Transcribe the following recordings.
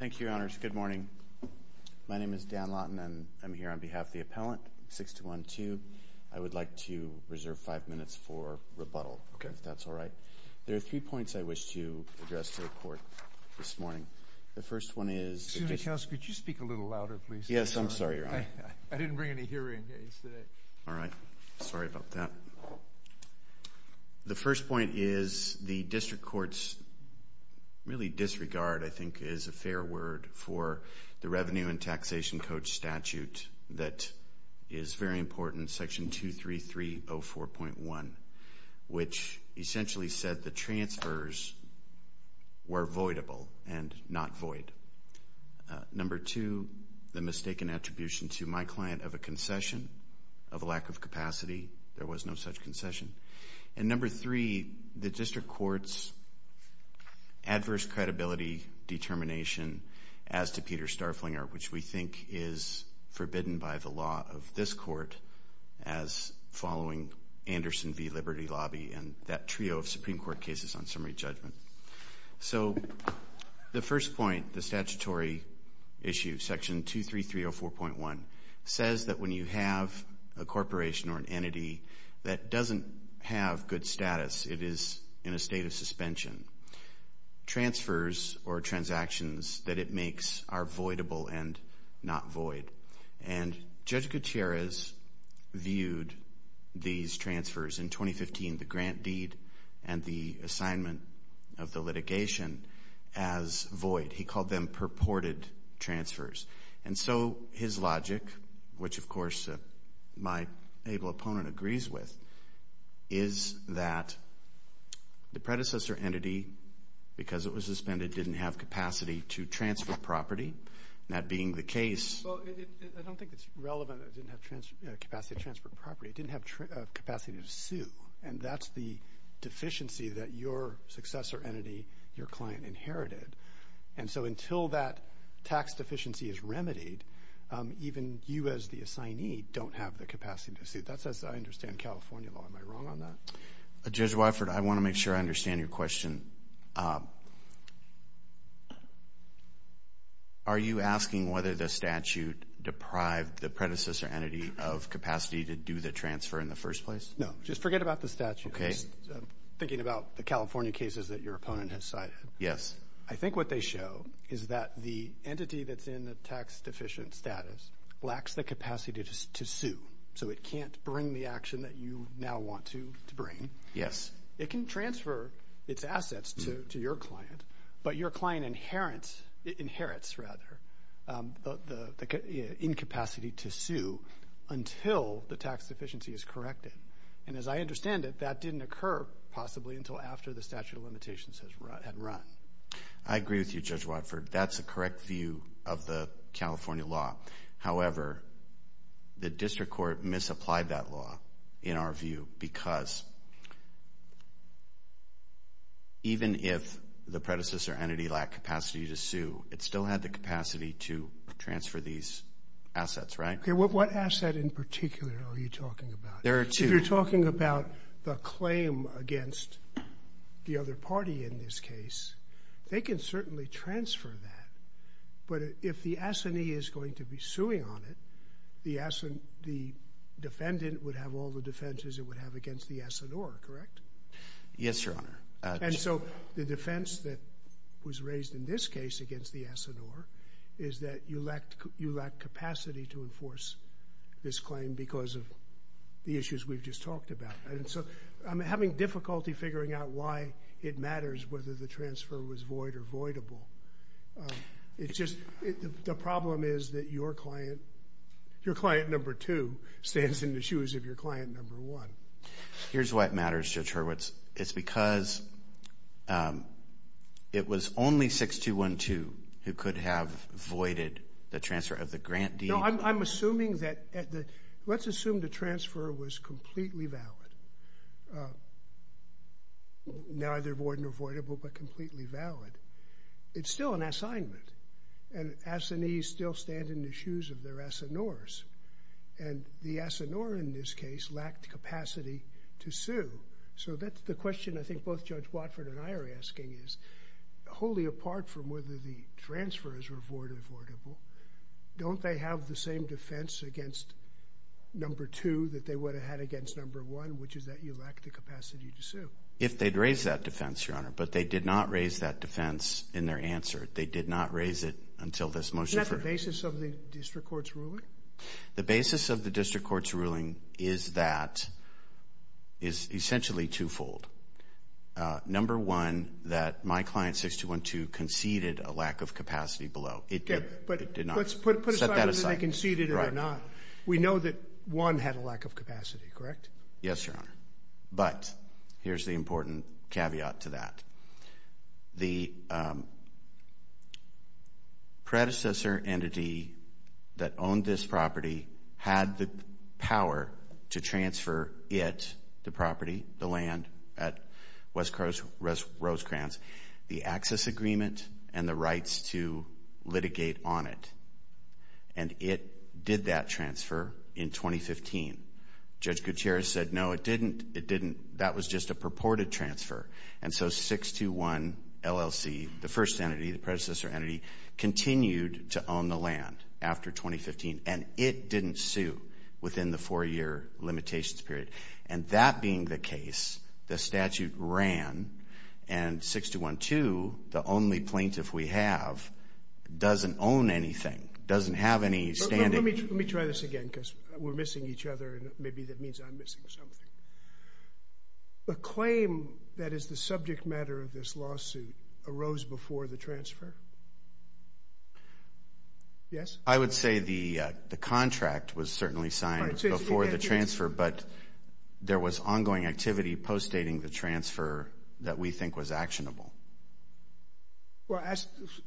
Thank you, Your Honors. Good morning. My name is Dan Laughton, and I'm here on behalf of the appellant, 621 Two. I would like to reserve five minutes for rebuttal, if that's all right. There are three points I wish to address to the Court this morning. The first one is— Senator Kouskos, could you speak a little louder, please? Yes, I'm sorry, Your Honor. I didn't bring any hearing aids today. Sorry about that. The first point is the District Court's really disregard, I think, is a fair word for the Revenue and Taxation Code statute that is very important, Section 23304.1, which essentially said the transfers were voidable and not void. Number two, the mistaken attribution to my client of a concession, of a lack of capacity. There was no such concession. And number three, the District Court's adverse credibility determination as to Peter Starflinger, which we think is forbidden by the law of this Court as following Anderson v. Liberty Lobby and that trio of Supreme Court cases on summary judgment. So the first point, the statutory issue, Section 23304.1, says that when you have a corporation or an entity that doesn't have good status, it is in a state of suspension, transfers or transactions that it makes are voidable and not void. And Judge Gutierrez viewed these transfers in 2015, the grant deed and the assignment of the litigation, as void. He called them purported transfers. And so his logic, which of course my able opponent agrees with, is that the predecessor entity, because it was suspended, didn't have capacity to transfer property. That being the case... Well, I don't think it's relevant that it didn't have capacity to transfer property. It didn't have capacity to sue. And that's the deficiency that your successor entity, your client, inherited. And so until that tax deficiency is remedied, even you as the assignee don't have the capacity to sue. That's as I understand California law. Am I wrong on that? Judge Weifert, I want to make sure I understand your question. Are you asking whether the statute deprived the predecessor entity of capacity to do the transfer in the first place? No. Just forget about the statute. I'm thinking about the California cases that your opponent has cited. Yes. I think what they show is that the entity that's in the tax deficient status lacks the capacity to sue. So it can't bring the action that you now want to bring. It can transfer its assets to your client, but your client inherits the incapacity to sue until the tax deficiency is corrected. And as I understand it, that didn't occur possibly until after the statute of limitations had run. I agree with you, Judge Weifert. That's a correct view of the California law. However, the district court misapplied that law in our view because even if the predecessor entity lacked capacity to sue, it still had the capacity to transfer these assets, right? What asset in particular are you talking about? If you're talking about the claim against the other party in this case, they can certainly transfer that. But if the assignee is going to be suing on it, the defendant would have all the defenses, it would have against the S&R, correct? Yes, Your Honor. And so the defense that was raised in this case against the S&R is that you lack capacity to enforce this claim because of the issues we've just talked about. And so I'm having difficulty figuring out why it matters whether the transfer was void or voidable. It's just the problem is that your client, your client number two stands in the shoes of your client number one. Here's why it matters, Judge Hurwitz. It's because it was only 6212 who could have voided the transfer of the grant deed. No, I'm assuming that, let's assume the transfer was completely valid, neither void nor voidable, but completely valid. It's still an assignment and assignees still stand in the shoes of their S&Rs. And the S&R in this case lacked capacity to sue. So that's the question I think both Judge Watford and I are asking is, wholly apart from whether the transfers were void or voidable, don't they have the same defense against number two that they would have had against number one, which is that you lack the capacity to sue? If they'd raised that defense, Your Honor, but they did not raise that defense in their answer. They did not raise it until this motion. Isn't that the basis of the district court's ruling? The basis of the district court's ruling is that, is essentially twofold. Number one, that my client 6212 conceded a lack of capacity below. It did, but it did not set that aside. We know that one had a lack of capacity, correct? Yes, Your Honor. But here's the important caveat to that. The predecessor entity that owned this property had the power to transfer it, the property, the land at West Rosecrans, the access agreement and the rights to litigate on it. And it did that transfer in 2015. Judge Gutierrez said, no, it didn't. That was just a purported transfer. And so 621 LLC, the first entity, the predecessor entity, continued to own the land after 2015 and it didn't sue within the four-year limitations period. And that being the case, the statute ran and 6212, the only plaintiff we have, doesn't own anything, doesn't have any standing. Let me try this again because we're missing each other and maybe that means I'm missing something. The claim that is the subject matter of this lawsuit arose before the transfer? Yes? I would say the contract was certainly signed before the transfer, but there was ongoing activity postdating the transfer that we think was actionable. Well,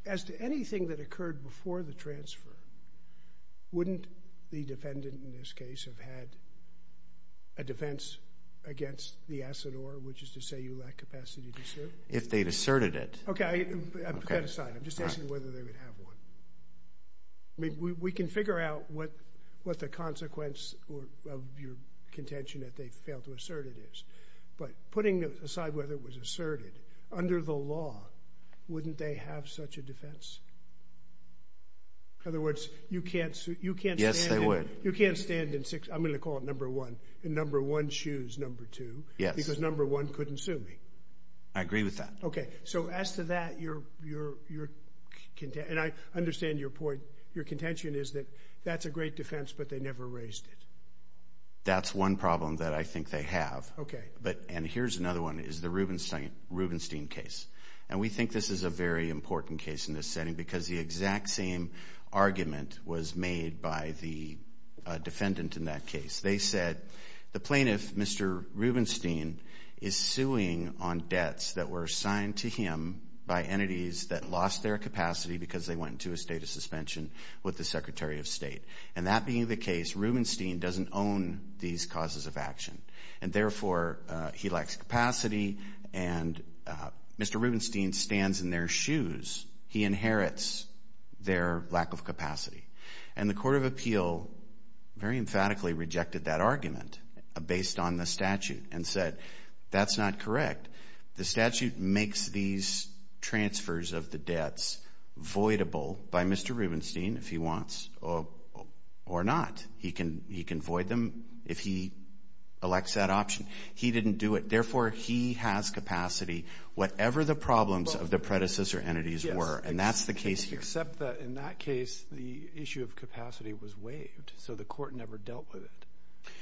as to anything that occurred before the transfer, wouldn't the defendant in this case have had a defense against the asset or which is to say you lack capacity to sue? If they'd asserted it. Okay, put that aside. I'm just asking whether they would have one. I mean, we can figure out what the consequence of your contention that they failed to assert it is. But putting aside whether it was asserted, under the law, wouldn't they have such a you can't you can't. Yes, they would. You can't stand in six. I'm going to call it number one. Number one shoes. Number two. Yes, because number one couldn't sue me. I agree with that. Okay, so as to that, you're you're you're content. And I understand your point. Your contention is that that's a great defense, but they never raised it. That's one problem that I think they have. Okay, but and here's another one is the Rubenstein Rubenstein case. And we think this is a very argument was made by the defendant in that case. They said the plaintiff, Mr. Rubenstein, is suing on debts that were assigned to him by entities that lost their capacity because they went into a state of suspension with the Secretary of State. And that being the case, Rubenstein doesn't own these causes of action. And therefore, he lacks capacity. And Mr. Rubenstein stands in their shoes. He inherits their lack of capacity. And the Court of Appeal very emphatically rejected that argument based on the statute and said that's not correct. The statute makes these transfers of the debts voidable by Mr. Rubenstein if he wants or or not. He can he can void them if he elects that option. He didn't do it. Therefore, he has capacity. Whatever the problems of the predecessor entities were. And that's the case here. Except that in that case, the issue of capacity was waived. So the court never dealt with it.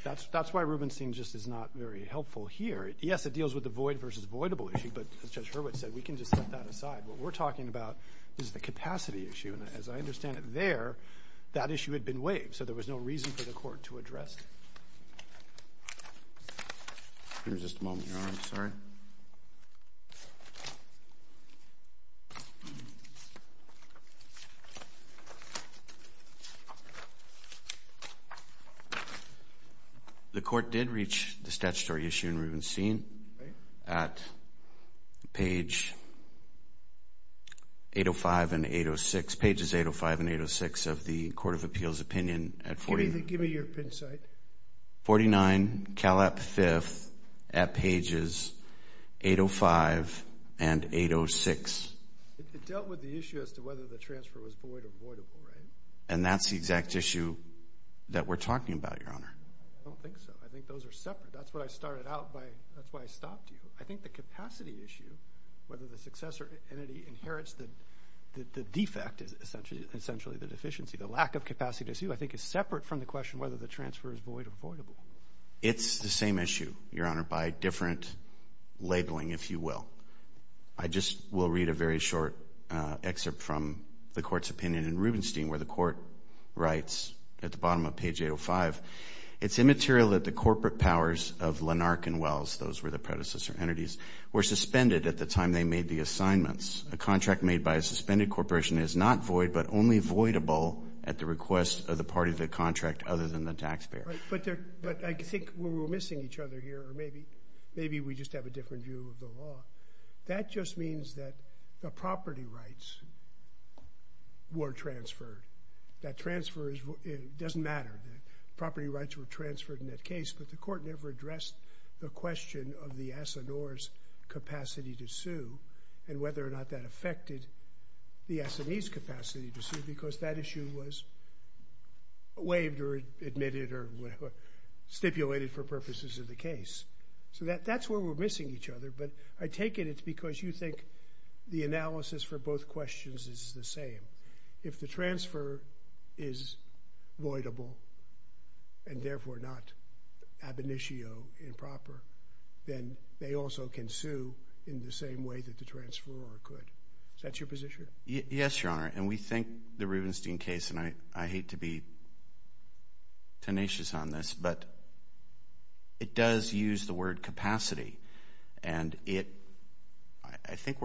That's that's why Rubenstein just is not very helpful here. Yes, it deals with the void versus voidable issue. But as Judge Hurwitz said, we can just set that aside. What we're talking about is the capacity issue. And as I understand it there, that issue had been waived. So there was no reason for the court to waive it. The court did reach the statutory issue in Rubenstein at page 805 and 806 pages 805 and 806. It dealt with the issue as to whether the transfer was void or voidable, right? And that's the exact issue that we're talking about, Your Honor. I don't think so. I think those are separate. That's what I started out by. That's why I stopped you. I think the capacity issue, whether the successor entity inherits the defect is essentially essentially the deficiency. The lack of capacity to see, I think, is separate from the question whether the transfer is void or voidable. It's the same issue, Your Honor, by different labeling, if you will. I just will read a very short excerpt from the court's opinion in Rubenstein where the court writes at the bottom of page 805, it's immaterial that the corporate powers of Lenark and Wells, those were the predecessor entities, were suspended at the time they made the assignments. A contract made by a suspended corporation is not void but only voidable at the request of the party of the contract other than the taxpayer. But I think we're missing each other here, or maybe we just have a different view of the law. That just means that the property rights were transferred. That transfer doesn't matter. The property rights were transferred in that case, but the court never addressed the question of the S&R's capacity to sue and whether or not that affected the S&E's capacity to sue because that issue was waived or admitted or stipulated for purposes of the case. So that's where we're missing each other, but I take it it's because you think the analysis for both questions is the same. If the transfer is voidable and therefore not ab initio improper, then they also can sue in the same way that the transferor could. Is that your position? Yes, Your Honor, and we think the Rubenstein case, and I hate to be tenacious on this, but it does use the word capacity. I think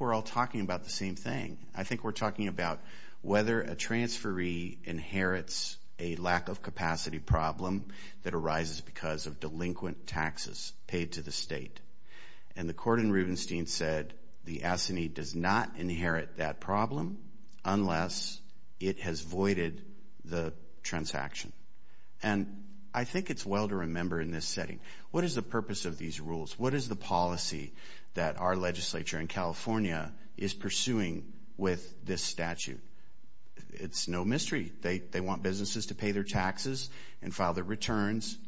we're all talking about the same thing. I think we're talking about whether a transferee inherits a lack of capacity problem that arises because of it. I think it's well to remember in this setting, what is the purpose of these rules? What is the policy that our legislature in California is pursuing with this statute? It's no mystery. They want businesses to pay their taxes and file their returns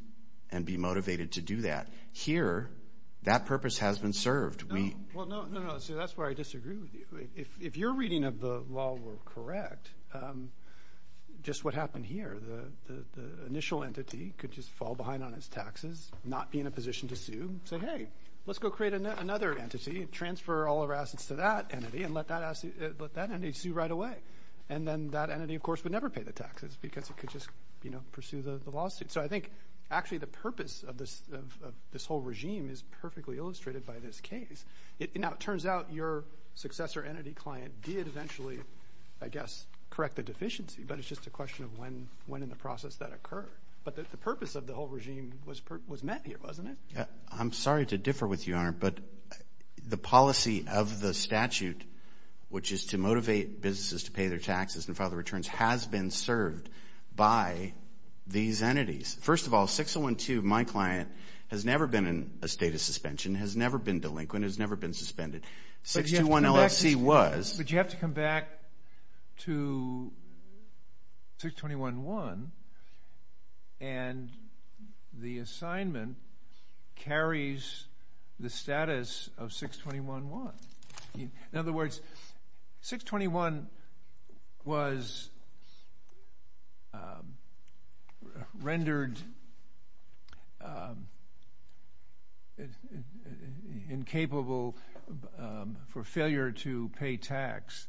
and be motivated to do that. Here, that purpose has been served. Well, no, that's where I disagree with you. If your reading of the law were correct, just what happened here, the initial entity could just fall behind on its taxes, not be in a position to sue, say, hey, let's go create another entity, transfer all our assets to that entity, and let that entity sue right away. And then that entity, of course, would never pay the taxes because it could just pursue the lawsuit. So I think actually the purpose of this whole regime is perfectly illustrated by this case. Now, it turns out your successor entity client did eventually, I guess, correct the deficiency, but it's just a question of when in the process that occurred. But the purpose of the whole regime was met here, wasn't it? I'm sorry to differ with you, Your Honor, but the policy of the statute, which is to motivate businesses to pay their taxes and file their returns, has been served by these entities. First of all, 6012, my client, has never been in a state of suspension, has never been delinquent, has never been suspended. 621 LLC was. But you have to come back to 621-1, and the assignment carries the status of 621-1. In other words, 621 was rendered incapable for failure to pay tax.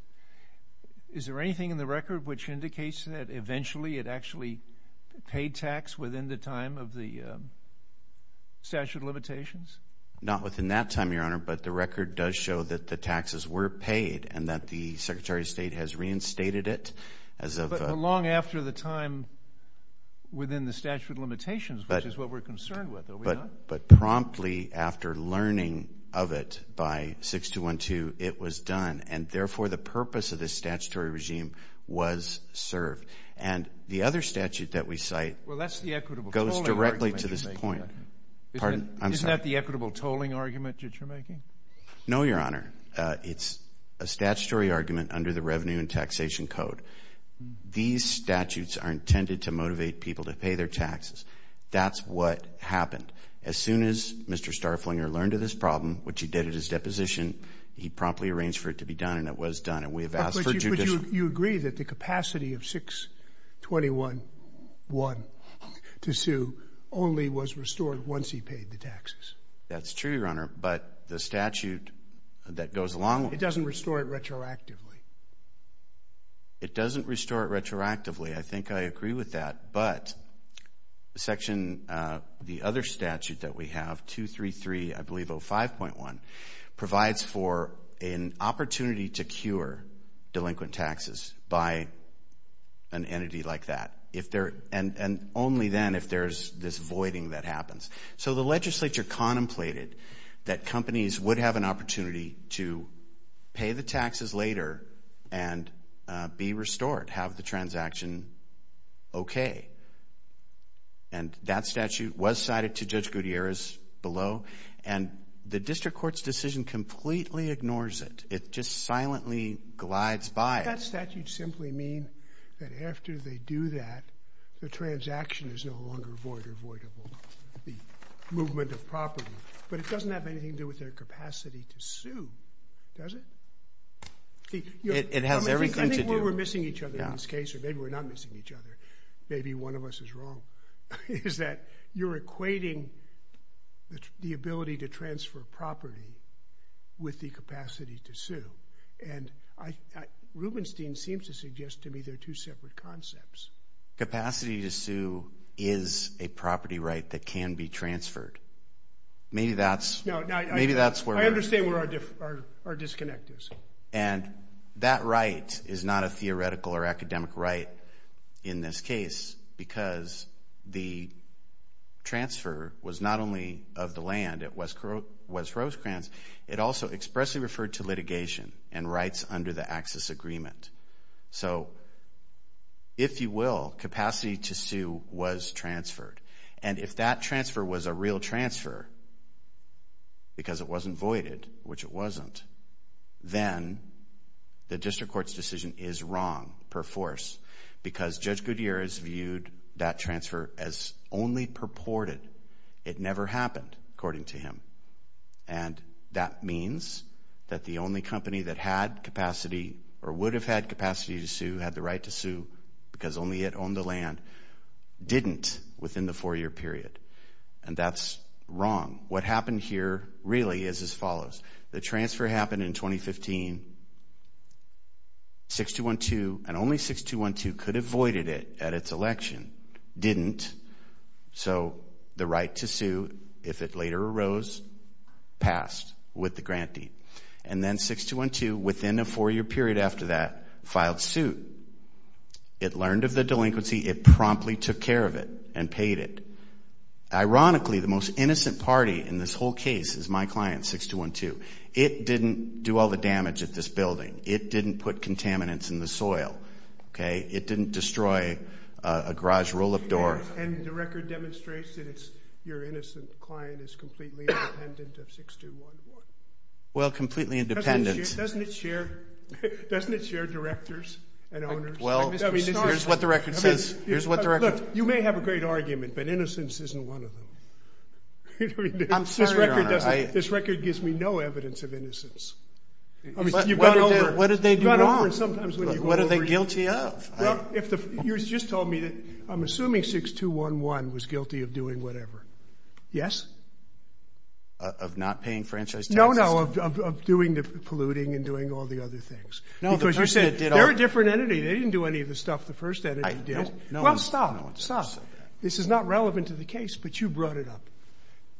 Is there anything in the record which indicates that eventually it actually paid tax within the time of the statute of limitations? Not within that time, Your Honor, but the record does show that the taxes were paid and that the long after the time within the statute of limitations, which is what we're concerned with, are we not? But promptly after learning of it by 621-2, it was done. And therefore, the purpose of this statutory regime was served. And the other statute that we cite goes directly to this point. Isn't that the equitable tolling argument that you're making? No, Your Honor. It's a statutory argument under the Revenue and Taxation Code. These statutes are intended to motivate people to pay their taxes. That's what happened. As soon as Mr. Starflinger learned of this problem, which he did at his deposition, he promptly arranged for it to be done, and it was done. And we have asked for judicial... But you agree that the capacity of 621-1 to sue only was restored once he paid the taxes? That's true, Your Honor. But the statute that goes along... It doesn't restore it retroactively. It doesn't restore it retroactively. I think I agree with that. But the other statute that we have, 233, I believe 05.1, provides for an opportunity to cure delinquent taxes by an opportunity to pay the taxes later and be restored, have the transaction okay. And that statute was cited to Judge Gutierrez below, and the district court's decision completely ignores it. It just silently glides by. That statute simply means that after they do that, the transaction is no longer void or voidable. The movement of property. But it doesn't have anything to do with their capacity to sue, does it? It has everything to do... I think where we're missing each other in this case, or maybe we're not missing each other, maybe one of us is wrong, is that you're equating the ability to transfer property with the capacity to sue. And Rubenstein seems to suggest to me they're two separate concepts. Capacity to sue is a property right that can be transferred. Maybe that's... Maybe that's where... I understand where our disconnect is. And that right is not a theoretical or academic right in this case because the transfer was not only of the land at West Rosecrans, it also expressly referred to litigation and rights under the access agreement. So, if you will, capacity to sue was transferred. And if that transfer was a real transfer, because it wasn't voided, which it wasn't, then the district court's decision is wrong per force because Judge Gutierrez viewed that transfer as only purported. It never happened, according to him. And that means that the only company that had capacity or would have had capacity to sue, had the right to sue because only it owned the land, didn't within the four-year period. And that's wrong. What happened here really is as follows. The transfer happened in 2015. 6212 and only 6212 could have voided it at its election, didn't. So, the right to sue, if it later arose, passed with the grant deed. And then 6212, within a four-year period after that, filed suit. It learned of the delinquency. It promptly took care of it and paid it. Ironically, the most innocent party in this whole case is my client, 6212. It didn't do all the damage at this building. It didn't put contaminants in the soil. It didn't destroy a garage roll-up door. And the record demonstrates that your innocent client is completely independent of 6212? Well, completely independent. Doesn't it share directors and owners? Well, here's what the record says. Look, you may have a great argument, but innocence isn't one of them. This record gives me no evidence of innocence. I mean, you've gone over... What did they do wrong? What are they guilty of? You just told me that I'm assuming 6211 was guilty of doing whatever. Yes? Of not paying franchise taxes? No, no. Of doing the polluting and doing all the other things. No, the person that did all... They're a different entity. They didn't do any of the stuff the first entity did. No one... Well, stop. Stop. This is not relevant to the case, but you brought it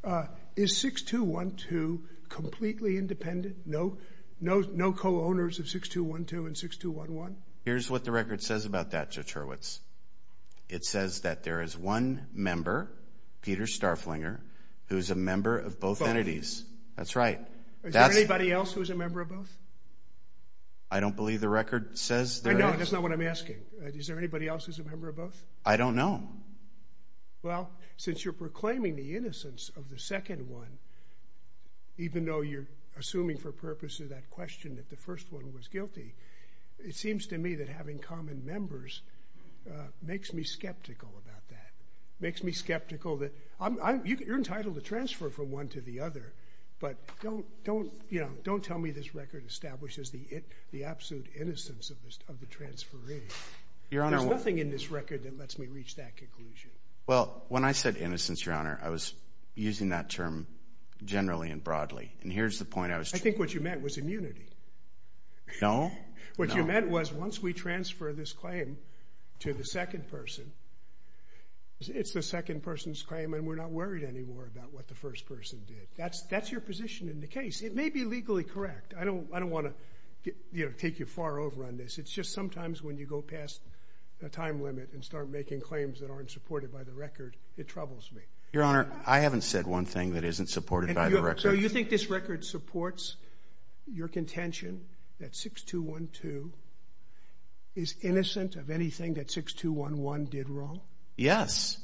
up. Is 6212 completely independent? No co-owners of 6212 and 6211? Here's what the record says about that, Judge Hurwitz. It says that there is one member, Peter Starflinger, who's a member of both entities. That's right. Is there anybody else who's a member of both? I don't believe the record says there is. No, that's not what I'm asking. Is there anybody else who's a member of both? I don't know. Well, since you're proclaiming the innocence of the second one, even though you're assuming for purpose of that question that the first one was guilty, it seems to me that having common members makes me skeptical about that. Makes me skeptical that... You're entitled to transfer from one to the other, but don't tell me this record establishes the absolute innocence of the transferring. Your Honor, I... Well, when I said innocence, Your Honor, I was using that term generally and broadly, and here's the point I was trying to... I think what you meant was immunity. No, no. What you meant was once we transfer this claim to the second person, it's the second person's claim and we're not worried anymore about what the first person did. That's your position in the case. It may be legally correct. I don't want to take you far over on this. It's just sometimes when you go past the time limit and start making claims that aren't supported by the record, it troubles me. Your Honor, I haven't said one thing that isn't supported by the record. So you think this record supports your contention that 6212 is innocent of anything that 6211 did wrong? Yes.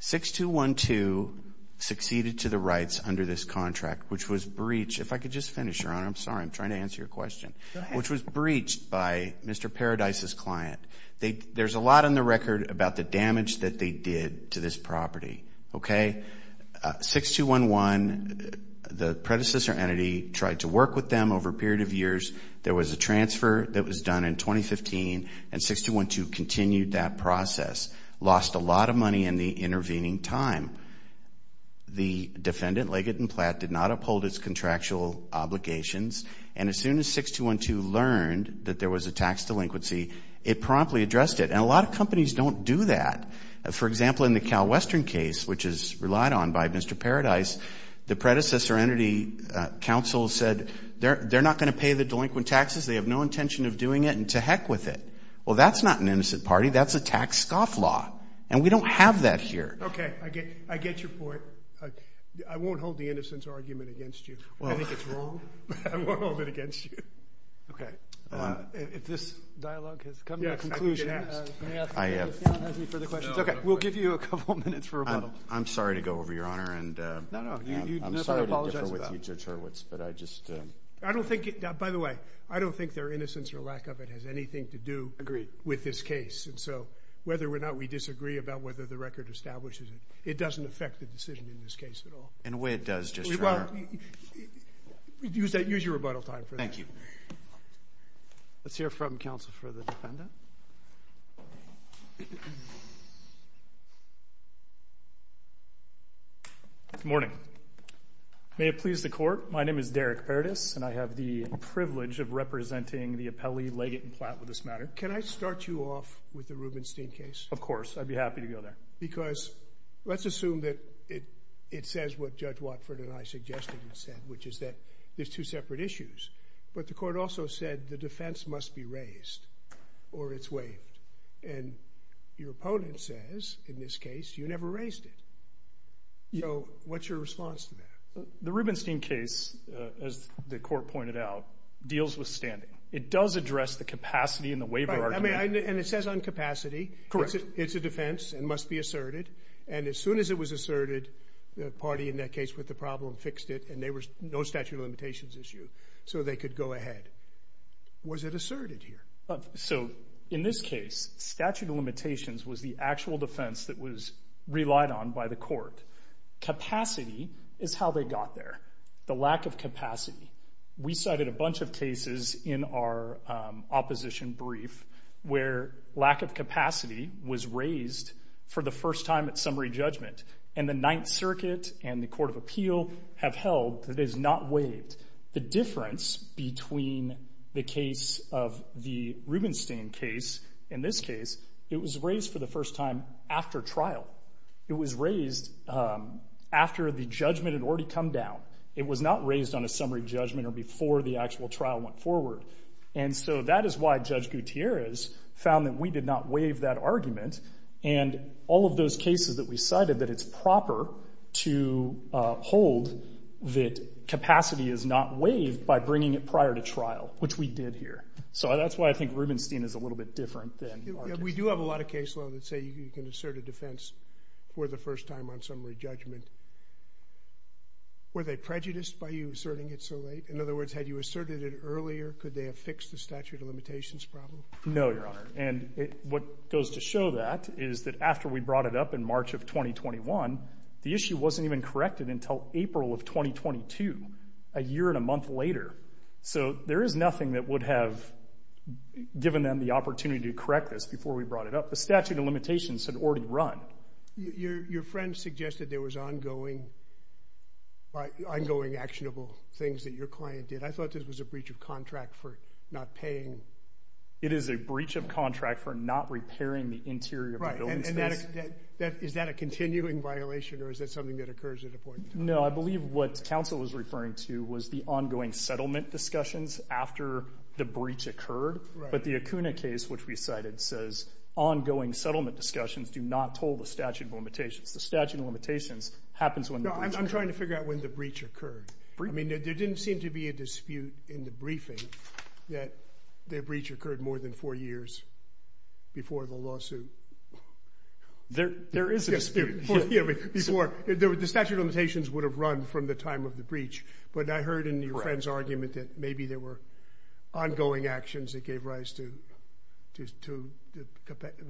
6212 succeeded to the rights under this contract, which was breached... If I could just finish, Your Honor. I'm sorry. I'm trying to answer your question. Go ahead. Breached by Mr. Paradise's client. There's a lot on the record about the damage that they did to this property. 6211, the predecessor entity, tried to work with them over a period of years. There was a transfer that was done in 2015 and 6212 continued that process. Lost a lot of money in the intervening time. The defendant, Leggett and Platt, did not uphold its contractual obligations. And as soon as 6212 learned that there was a tax delinquency, it promptly addressed it. And a lot of companies don't do that. For example, in the CalWestern case, which is relied on by Mr. Paradise, the predecessor entity counsel said, they're not going to pay the delinquent taxes. They have no intention of doing it and to heck with it. Well, that's not an innocent party. That's a tax scoff law. And we don't have that here. Okay. I get your point. I won't hold the innocence argument against you. I think it's wrong. I won't hold it against you. Okay. If this dialogue has come to a conclusion. Yes, I think it has. I have. Any further questions? Okay. We'll give you a couple minutes for a bubble. I'm sorry to go over, Your Honor. And I'm sorry to differ with you, Judge Hurwitz, but I just... I don't think, by the way, I don't think their innocence or lack of it has anything to do with this case. And so whether or not we disagree about whether the record establishes it, it doesn't affect the decision in this case at all. In a way, it does. Well, use your rebuttal time for that. Thank you. Let's hear from counsel for the defendant. Good morning. May it please the court. My name is Derek Paredes, and I have the privilege of representing the appellee, Leggett and Platt, with this matter. Can I start you off with the Rubenstein case? Of course. I'd be happy to go there. Because let's assume that it says what Judge Watford and I suggested and said, which is that there's two separate issues. But the court also said the defense must be raised or it's waived. And your opponent says, in this case, you never raised it. So what's your response to that? The Rubenstein case, as the court pointed out, deals with standing. It does address the capacity and the waiver argument. And it says on capacity. Correct. It's a defense and must be asserted. And as soon as it was asserted, the party in that case with the problem fixed it. And there was no statute of limitations issue. So they could go ahead. Was it asserted here? So in this case, statute of limitations was the actual defense that was relied on by the court. Capacity is how they got there. The lack of capacity. We cited a bunch of cases in our opposition brief where lack of capacity was raised for the first time at summary judgment. And the Ninth Circuit and the Court of Appeal have held that it is not waived. The difference between the case of the Rubenstein case, in this case, it was raised for the first time after trial. It was raised after the judgment had already come down. It was not raised on a summary judgment or before the actual trial went forward. And so that is why Judge Gutierrez found that we did not waive that argument. And all of those cases that we cited, that it's proper to hold that capacity is not waived by bringing it prior to trial, which we did here. So that's why I think Rubenstein is a little bit different. We do have a lot of case law that say you can assert a defense for the first time on summary judgment. Were they prejudiced by you asserting it so late? In other words, had you asserted it earlier? Could they have fixed the statute of limitations problem? No, Your Honor. And what goes to show that is that after we brought it up in March of 2021, the issue wasn't even corrected until April of 2022, a year and a month later. So there is nothing that would have given them the opportunity to correct this before we brought it up. The statute of limitations had already run. Your friend suggested there was ongoing actionable things that your client did. I thought this was a breach of contract for not paying. It is a breach of contract for not repairing the interior of the building. Is that a continuing violation, or is that something that occurs at a point in time? No, I believe what counsel was referring to was the ongoing settlement discussions after the breach occurred. But the Acuna case, which we cited, says ongoing settlement discussions do not toll the statute of limitations. The statute of limitations happens when the breach occurred. I'm trying to figure out when the breach occurred. There didn't seem to be a dispute in the briefing that the breach occurred more than four years before the lawsuit. There is a dispute. The statute of limitations would have run from the time of the breach. But I heard in your friend's argument that maybe there were ongoing actions that gave rise to the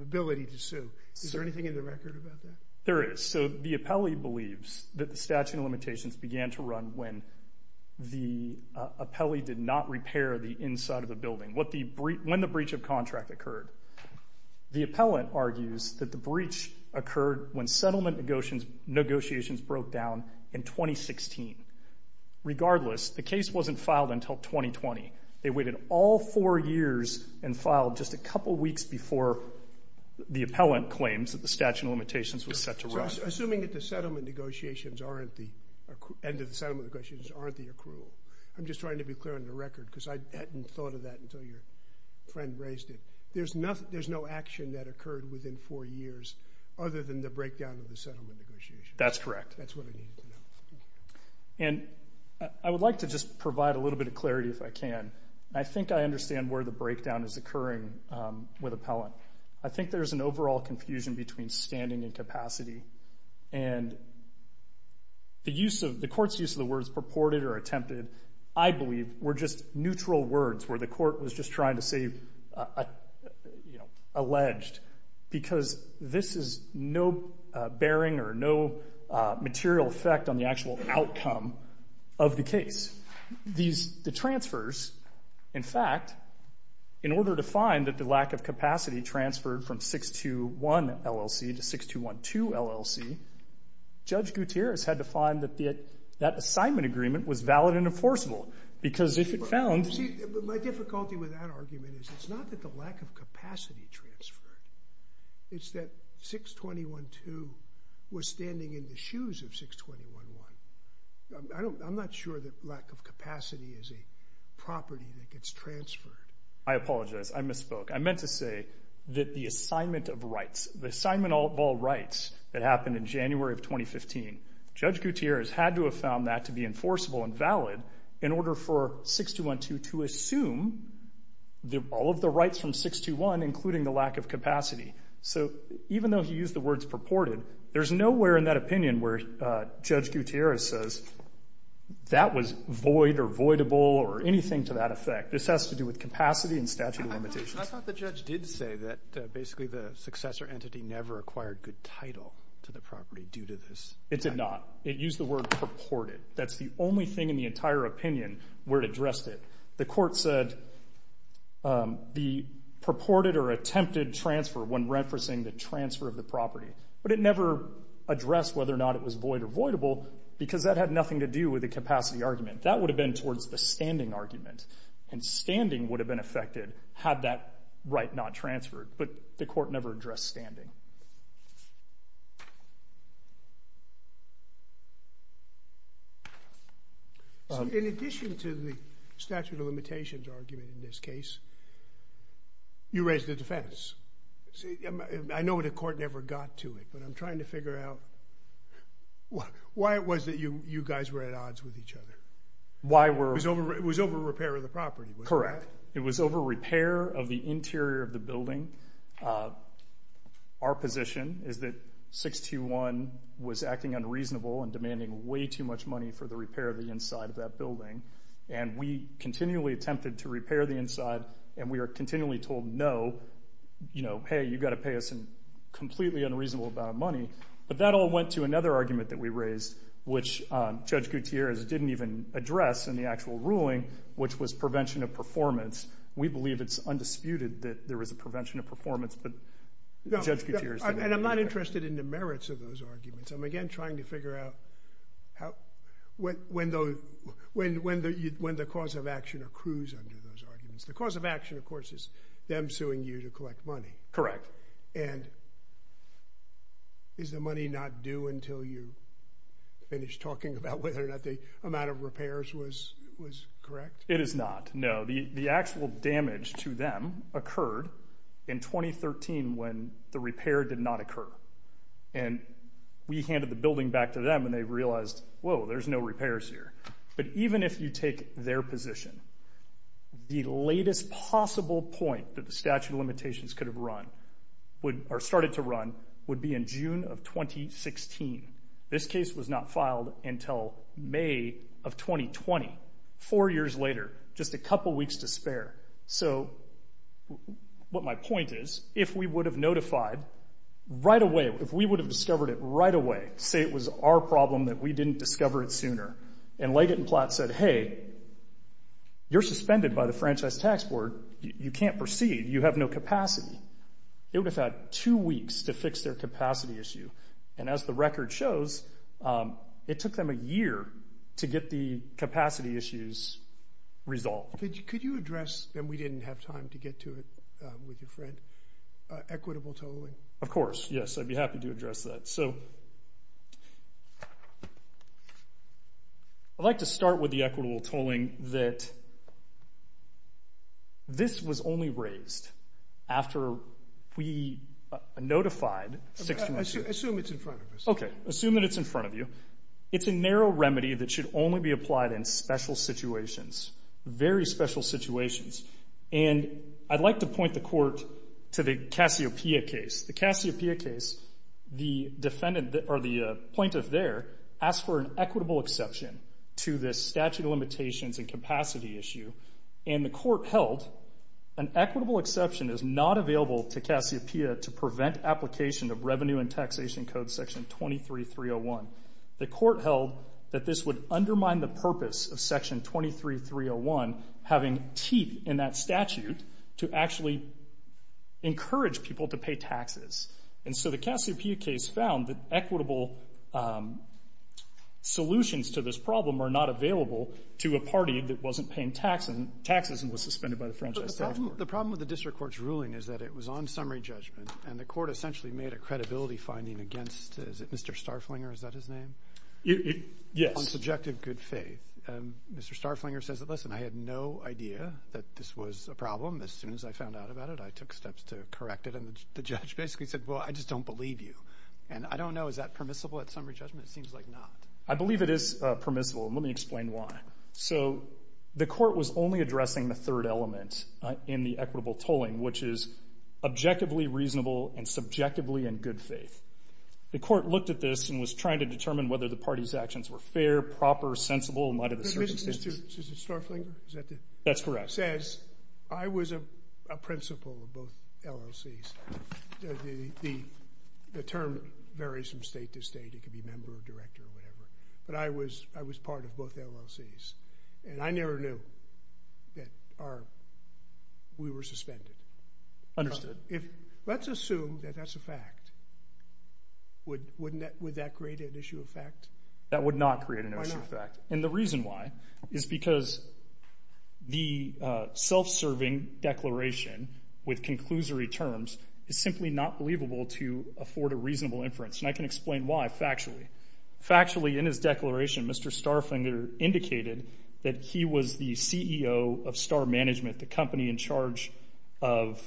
ability to sue. Is there anything in the record about that? There is. The appellee believes that the statute of limitations began to run when the appellee did not repair the inside of the building, when the breach of contract occurred. The appellant argues that the breach occurred when settlement negotiations broke down in 2016. Regardless, the case wasn't filed until 2020. They waited all four years and filed just a couple weeks before the appellant claims that the statute of limitations was set to run. Assuming that the settlement negotiations aren't the accrual. I'm just trying to be clear on the record because I hadn't thought of that until your friend raised it. There's no action that occurred within four years other than the breakdown of the settlement negotiations. That's correct. That's what I needed to know. And I would like to just provide a little bit of clarity if I can. I think I understand where the breakdown is occurring with appellant. I think there's an overall confusion between standing and capacity and the court's use of the words purported or attempted, I believe, were just neutral words where the court was just trying to say alleged because this is no bearing or no material effect on the actual outcome of the case. These transfers, in fact, in order to find that the lack of capacity transferred from 621 LLC to 6212 LLC, Judge Gutierrez had to find that that assignment agreement was valid and enforceable because if it found... See, my difficulty with that argument is it's not that the lack of capacity transferred. It's that 6212 was standing in the shoes of 6211. I'm not sure that lack of capacity is a property that gets transferred. I apologize. I misspoke. I meant to say that the assignment of rights, the assignment of all rights that happened in January of 2015, Judge Gutierrez had to have found that to be enforceable and valid in order for 6212 to assume all of the rights from 6211, including the lack of capacity. So even though he used the words purported, there's nowhere in that opinion where Judge Gutierrez says that was void or voidable or anything to that effect. This has to do with capacity and statute of limitations. I thought the judge did say that basically the successor entity never acquired good title to the property due to this. It did not. It used the word purported. That's the only thing in the entire opinion where it addressed it. The court said the purported or attempted transfer when referencing the transfer of property, but it never addressed whether or not it was void or voidable because that had nothing to do with the capacity argument. That would have been towards the standing argument, and standing would have been affected had that right not transferred, but the court never addressed standing. So in addition to the statute of limitations argument in this case, you raised the defense. See, I know the court never got to it, but I'm trying to figure out why it was that you guys were at odds with each other. It was over repair of the property, wasn't it? Correct. It was over repair of the interior of the building. Our position is that 6211 was acting unreasonable and demanding way too much money for the repair of the inside of that building, and we continually attempted to repair the inside, and we are hey, you got to pay us a completely unreasonable amount of money, but that all went to another argument that we raised, which Judge Gutierrez didn't even address in the actual ruling, which was prevention of performance. We believe it's undisputed that there was a prevention of performance, but Judge Gutierrez didn't. I'm not interested in the merits of those arguments. I'm again trying to figure out when the cause of action accrues under those arguments. The cause of action, of course, is them suing you to collect money. Correct. And is the money not due until you finish talking about whether or not the amount of repairs was correct? It is not, no. The actual damage to them occurred in 2013 when the repair did not occur, and we handed the building back to them, and they realized, whoa, there's no repairs here. But even if you take their position, the latest possible point that the statute of limitations could have run, or started to run, would be in June of 2016. This case was not filed until May of 2020, four years later, just a couple weeks to spare. So what my point is, if we would have notified right away, if we would have discovered it right away, say it was our problem that we didn't discover it sooner, and Leggett and Platt said, hey, you're suspended by the Franchise Tax Board. You can't proceed. You have no capacity. It would have had two weeks to fix their capacity issue. And as the record shows, it took them a year to get the capacity issues resolved. Could you address, and we didn't have time to get to it with your friend, equitable tolling? Of course, yes, I'd be happy to address that. So I'd like to start with the equitable tolling that this was only raised after we notified six months ago. Assume it's in front of us. Okay. Assume that it's in front of you. It's a narrow remedy that should only be applied in special situations, very special situations. And I'd like to point the court to the Cassiopeia case. The Cassiopeia case, the defendant, or the plaintiff there, asked for an equitable exception to this statute of limitations and capacity issue, and the court held an equitable exception is not available to Cassiopeia to prevent application of Revenue and Taxation Code Section 23301. The court held that this would undermine the purpose of Section 23301 having teeth in that And so the Cassiopeia case found that equitable solutions to this problem are not available to a party that wasn't paying taxes and was suspended by the franchise. But the problem with the district court's ruling is that it was on summary judgment, and the court essentially made a credibility finding against, is it Mr. Starflinger? Is that his name? Yes. On subjective good faith. Mr. Starflinger says that, listen, I had no idea that this was a problem. As soon as I found out about it, I took steps to correct it. And the judge basically said, well, I just don't believe you. And I don't know. Is that permissible at summary judgment? It seems like not. I believe it is permissible. And let me explain why. So the court was only addressing the third element in the equitable tolling, which is objectively reasonable and subjectively in good faith. The court looked at this and was trying to determine whether the party's actions were fair, proper, sensible in light of the circumstances. Mr. Starflinger, is that the? That's correct. I was a principal of both LLCs. The term varies from state to state. It could be member or director or whatever. But I was part of both LLCs. And I never knew that we were suspended. Understood. Let's assume that that's a fact. Would that create an issue of fact? That would not create an issue of fact. And the reason why is because the self-serving declaration with conclusory terms is simply not believable to afford a reasonable inference. And I can explain why factually. Factually, in his declaration, Mr. Starflinger indicated that he was the CEO of Star Management, the company in charge of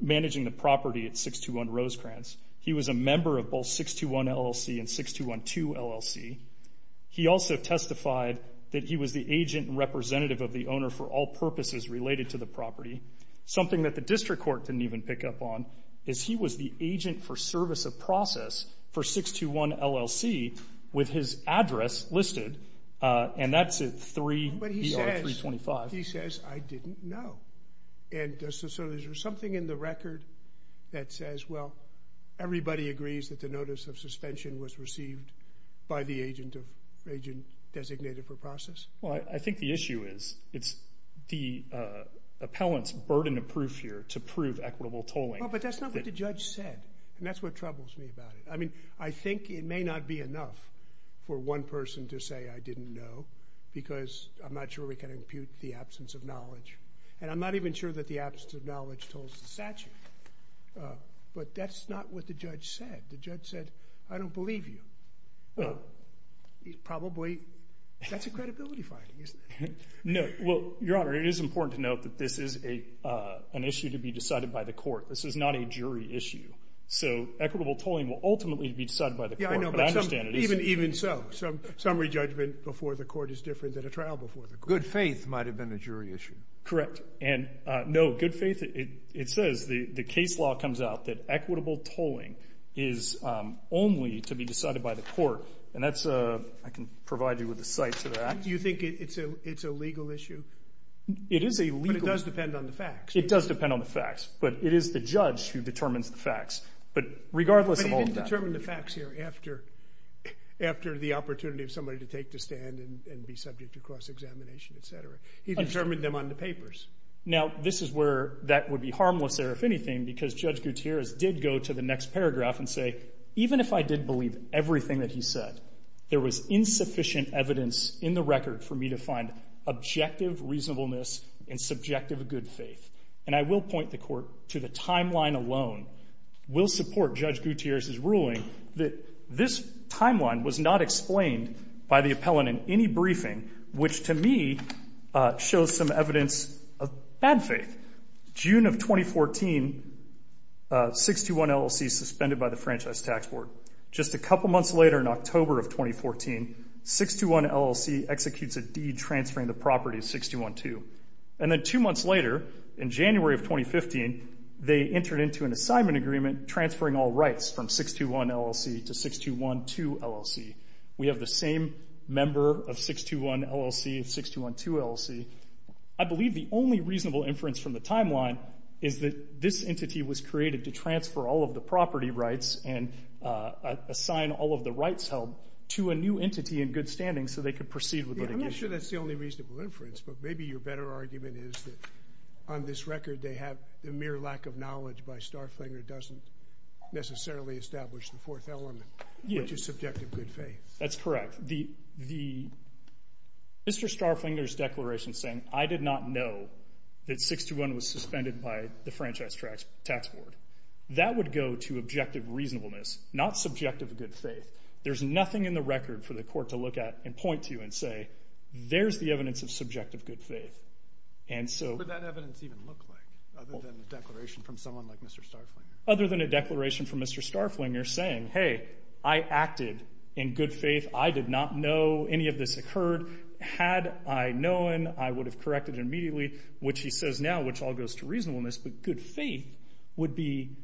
managing the property at 621 Rosecrans. He was a member of both 621 LLC and 6212 LLC. He also testified that he was the agent and representative of the owner for all purposes related to the property. Something that the district court didn't even pick up on is he was the agent for service of process for 621 LLC with his address listed. And that's a 3-325. He says, I didn't know. And so there's something in the record that says, well, everybody agrees that the notice of suspension was received by the agent designated for process? Well, I think the issue is it's the appellant's burden of proof here to prove equitable tolling. But that's not what the judge said. And that's what troubles me about it. I mean, I think it may not be enough for one person to say, I didn't know, because I'm not sure we can impute the absence of knowledge. And I'm not even sure that the absence of knowledge tolls the statute. But that's not what the judge said. The judge said, I don't believe you. Probably, that's a credibility finding, isn't it? No. Well, Your Honor, it is important to note that this is an issue to be decided by the court. This is not a jury issue. So equitable tolling will ultimately be decided by the court. Yeah, I know, but even so, summary judgment before the court is different than a trial before the court. Good faith might have been a jury issue. Correct. And no, good faith, it says, the case law comes out that equitable tolling is only to be decided by the court. And that's, I can provide you with a cite to that. Do you think it's a legal issue? It is a legal issue. But it does depend on the facts. It does depend on the facts. But it is the judge who determines the facts. But regardless of all that. But he didn't determine the facts here after the opportunity of somebody to take the stand and be subject to cross-examination, et cetera. He determined them on the papers. Now, this is where that would be harmless there, if anything, because Judge Gutierrez did go to the next paragraph and say, even if I did believe everything that he said, there was insufficient evidence in the record for me to find objective reasonableness and subjective good faith. And I will point the court to the timeline alone will support Judge Gutierrez's ruling that this timeline was not explained by the appellant in any briefing, which to me shows some evidence of bad faith. June of 2014, 621 LLC suspended by the Franchise Tax Board. Just a couple months later, in October of 2014, 621 LLC executes a deed transferring the property to 6212. And then two months later, in January of 2015, they entered into an assignment agreement transferring all rights from 621 LLC to 6212 LLC. We have the same member of 621 LLC and 6212 LLC. I believe the only reasonable inference from the timeline is that this entity was created to transfer all of the property rights and assign all of the rights held to a new entity in good standing so they could proceed with litigation. Yeah, I'm not sure that's the only reasonable inference, but maybe your better argument is that on this record, they have the mere lack of knowledge by Starflinger doesn't necessarily establish the fourth element, which is subjective good faith. That's correct. Mr. Starflinger's declaration saying, I did not know that 621 was suspended by the Franchise Tax Board, that would go to objective reasonableness, not subjective good faith. There's nothing in the record for the court to look at and point to and say, there's the evidence of subjective good faith. What would that evidence even look like, other than a declaration from someone like Mr. Starflinger? Other than a declaration from Mr. Starflinger saying, hey, I acted in good faith. I did not know any of this occurred. Had I known, I would have corrected immediately, which he says now, which all goes to reasonableness, but good faith would be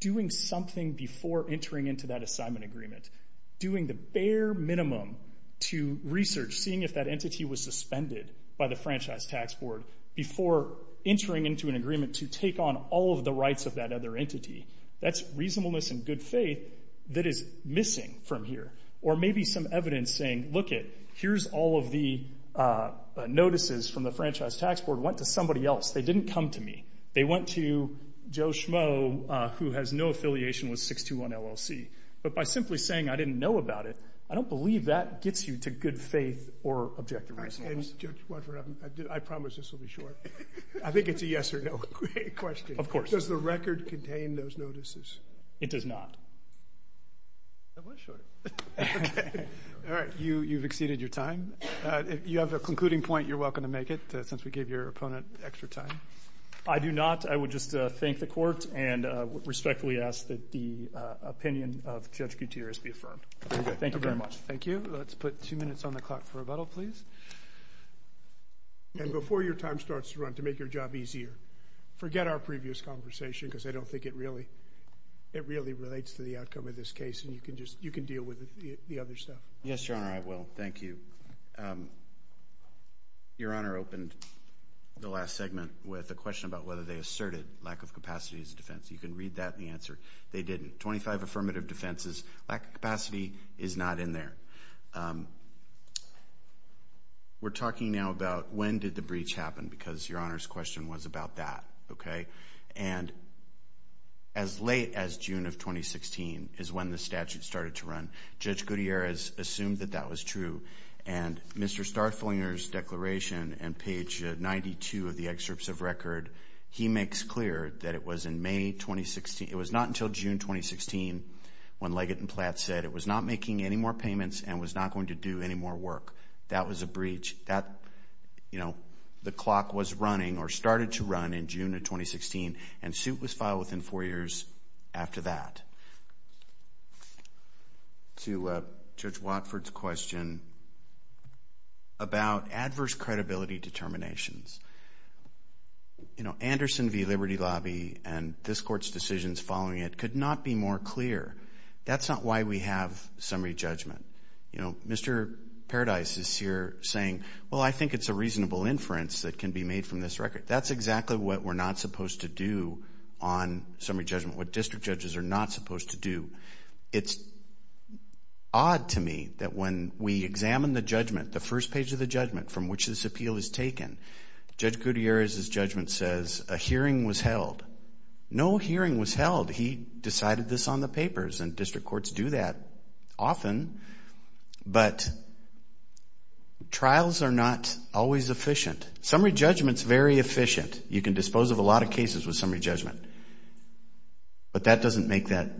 doing something before entering into that assignment agreement, doing the bare minimum to research, seeing if that entity was suspended by the Franchise Tax Board before entering into an agreement to take on all of the rights of that other entity. That's reasonableness and good faith that is missing from here. Or maybe some evidence saying, look it, here's all of the notices from the Franchise Tax Board went to somebody else. They didn't come to me. They went to Joe Schmo, who has no affiliation with 621 LLC. But by simply saying, I didn't know about it, I don't believe that gets you to good faith or objective reasonableness. And Judge Watford, I promise this will be short. I think it's a yes or no question. Of course. Does the record contain those notices? It does not. That was short. All right, you've exceeded your time. You have a concluding point. You're welcome to make it, since we gave your opponent extra time. I do not. I would just thank the court and respectfully ask that the opinion of Judge Gutierrez be affirmed. Thank you very much. Thank you. Let's put two minutes on the clock for rebuttal, please. And before your time starts to run, to make your job easier, forget our previous conversation, because I don't think it really relates to the outcome of this case. And you can deal with the other stuff. Yes, Your Honor, I will. Thank you. Your Honor opened the last segment with a question about whether they asserted lack of capacity as a defense. You can read that in the answer. They didn't. 25 affirmative defenses. Lack of capacity is not in there. We're talking now about when did the breach happen, because Your Honor's question was about that, okay? And as late as June of 2016 is when the statute started to run. Judge Gutierrez assumed that that was true. And Mr. Starflinger's declaration on page 92 of the excerpts of record, he makes clear that it was in May 2016. It was not until June 2016 when Leggett and Platt said it was not making any more payments and was not going to do any more work. That was a breach. The clock was running or started to run in June of 2016, and suit was filed within four years after that. To Judge Watford's question about adverse credibility determinations. You know, Anderson v. Liberty Lobby and this court's decisions following it could not be more clear. That's not why we have summary judgment. You know, Mr. Paradise is here saying, well, I think it's a reasonable inference that can be made from this record. That's exactly what we're not supposed to do on summary judgment, what district judges are not supposed to do. It's odd to me that when we examine the judgment, the first page of the judgment from which this appeal is taken, Judge Gutierrez's judgment says a hearing was held. No hearing was held. He decided this on the papers, and district courts do that often, but trials are not always efficient. Summary judgment's very efficient. You can dispose of a lot of cases with summary judgment, but that doesn't make that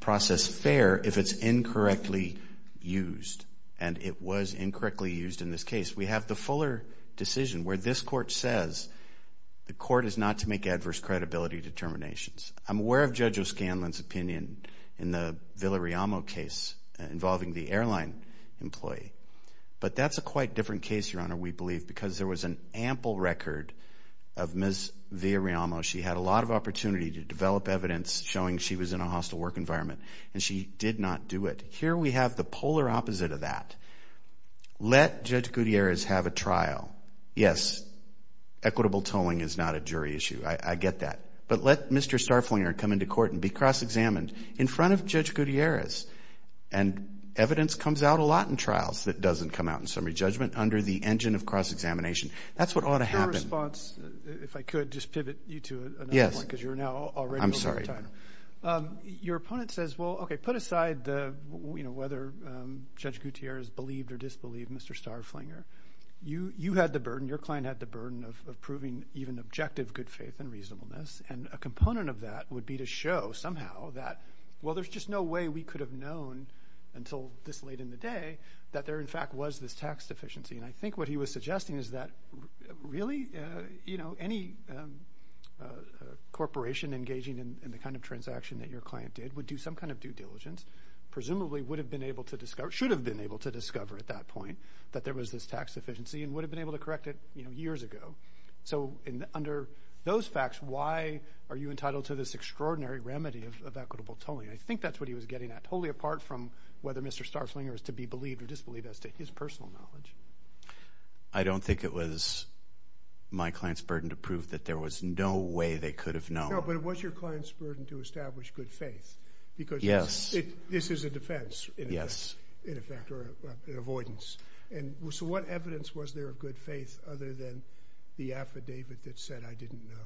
process fair if it's incorrectly used, and it was incorrectly used in this case. We have the Fuller decision where this court says the court is not to make adverse credibility determinations. I'm aware of Judge O'Scanlan's opinion in the Villarrealmo case involving the airline employee, but that's a quite different case, Your Honor, we believe, because there was an ample record of Ms. Villarrealmo. She had a lot of opportunity to develop evidence showing she was in a hostile work environment, and she did not do it. Here we have the polar opposite of that. Let Judge Gutierrez have a trial. Yes, equitable tolling is not a jury issue. I get that. But let Mr. Starflinger come into court and be cross-examined in front of Judge Gutierrez, and evidence comes out a lot in trials that doesn't come out in summary judgment under the engine of cross-examination. That's what ought to happen. Your response, if I could, just pivot you to another point, because you're now already on time. Your opponent says, well, okay, put aside whether Judge Gutierrez believed or disbelieved Mr. Starflinger, you had the burden, your client had the burden of proving even objective good faith and reasonableness, and a component of that would be to show somehow that, well, there's just no way we could have known until this late in the day that there, in fact, was this tax deficiency. And I think what he was suggesting is that, really, any corporation engaging in the kind of transaction that your client did would do some kind of due diligence, presumably would have been able to discover, should have been able to discover at that point that there was this tax deficiency, and would have been able to correct it years ago. So, under those facts, why are you entitled to this extraordinary remedy of equitable tolling? I think that's what he was getting at, totally apart from whether Mr. Starflinger is to be believed or disbelieved as to his personal knowledge. I don't think it was my client's burden to prove that there was no way they could have known. But it was your client's burden to establish good faith, because this is a defense, in effect, or an avoidance. So what evidence was there of good faith other than the affidavit that said, I didn't know?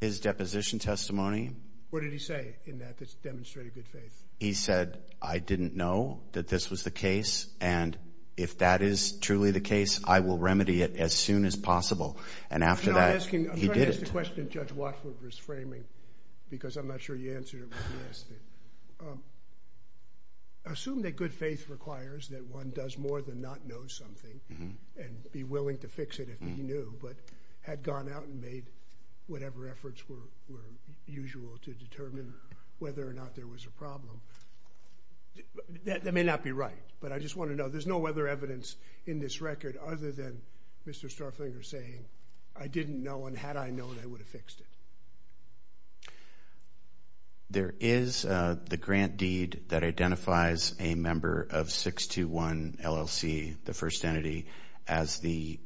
His deposition testimony. What did he say in that that's demonstrating good faith? He said, I didn't know that this was the case, and if that is truly the case, I will remedy it as soon as possible. And after that, he did it. The question Judge Watford was framing, because I'm not sure you answered it when he asked it, assume that good faith requires that one does more than not know something and be willing to fix it if he knew, but had gone out and made whatever efforts were usual to determine whether or not there was a problem. That may not be right, but I just want to know. There's no other evidence in this record other than Mr. Starflinger saying, I didn't know, and had I known, I would have fixed it. There is the grant deed that identifies a member of 621 LLC, the first entity, as the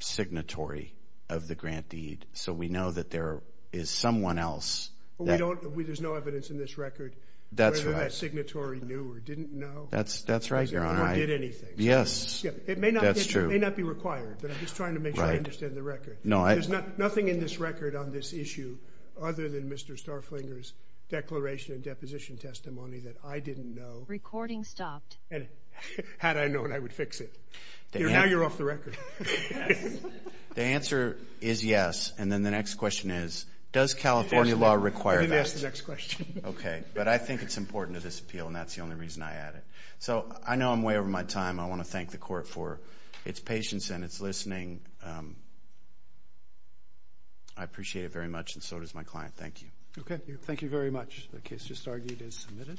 signatory of the grant deed. So we know that there is someone else. There's no evidence in this record whether that signatory knew or didn't know. That's right, Your Honor. Or did anything. Yes, that's true. It may not be required, but I'm just trying to make sure I understand the record. There's nothing in this record on this issue other than Mr. Starflinger's declaration and deposition testimony that I didn't know. Recording stopped. And had I known, I would fix it. Now you're off the record. The answer is yes. And then the next question is, does California law require that? Let me ask the next question. OK, but I think it's important to this appeal, and that's the only reason I add it. So I know I'm way over my time. I want to thank the court for its patience and its listening. I appreciate it very much, and so does my client. Thank you. OK, thank you very much. The case just argued is submitted.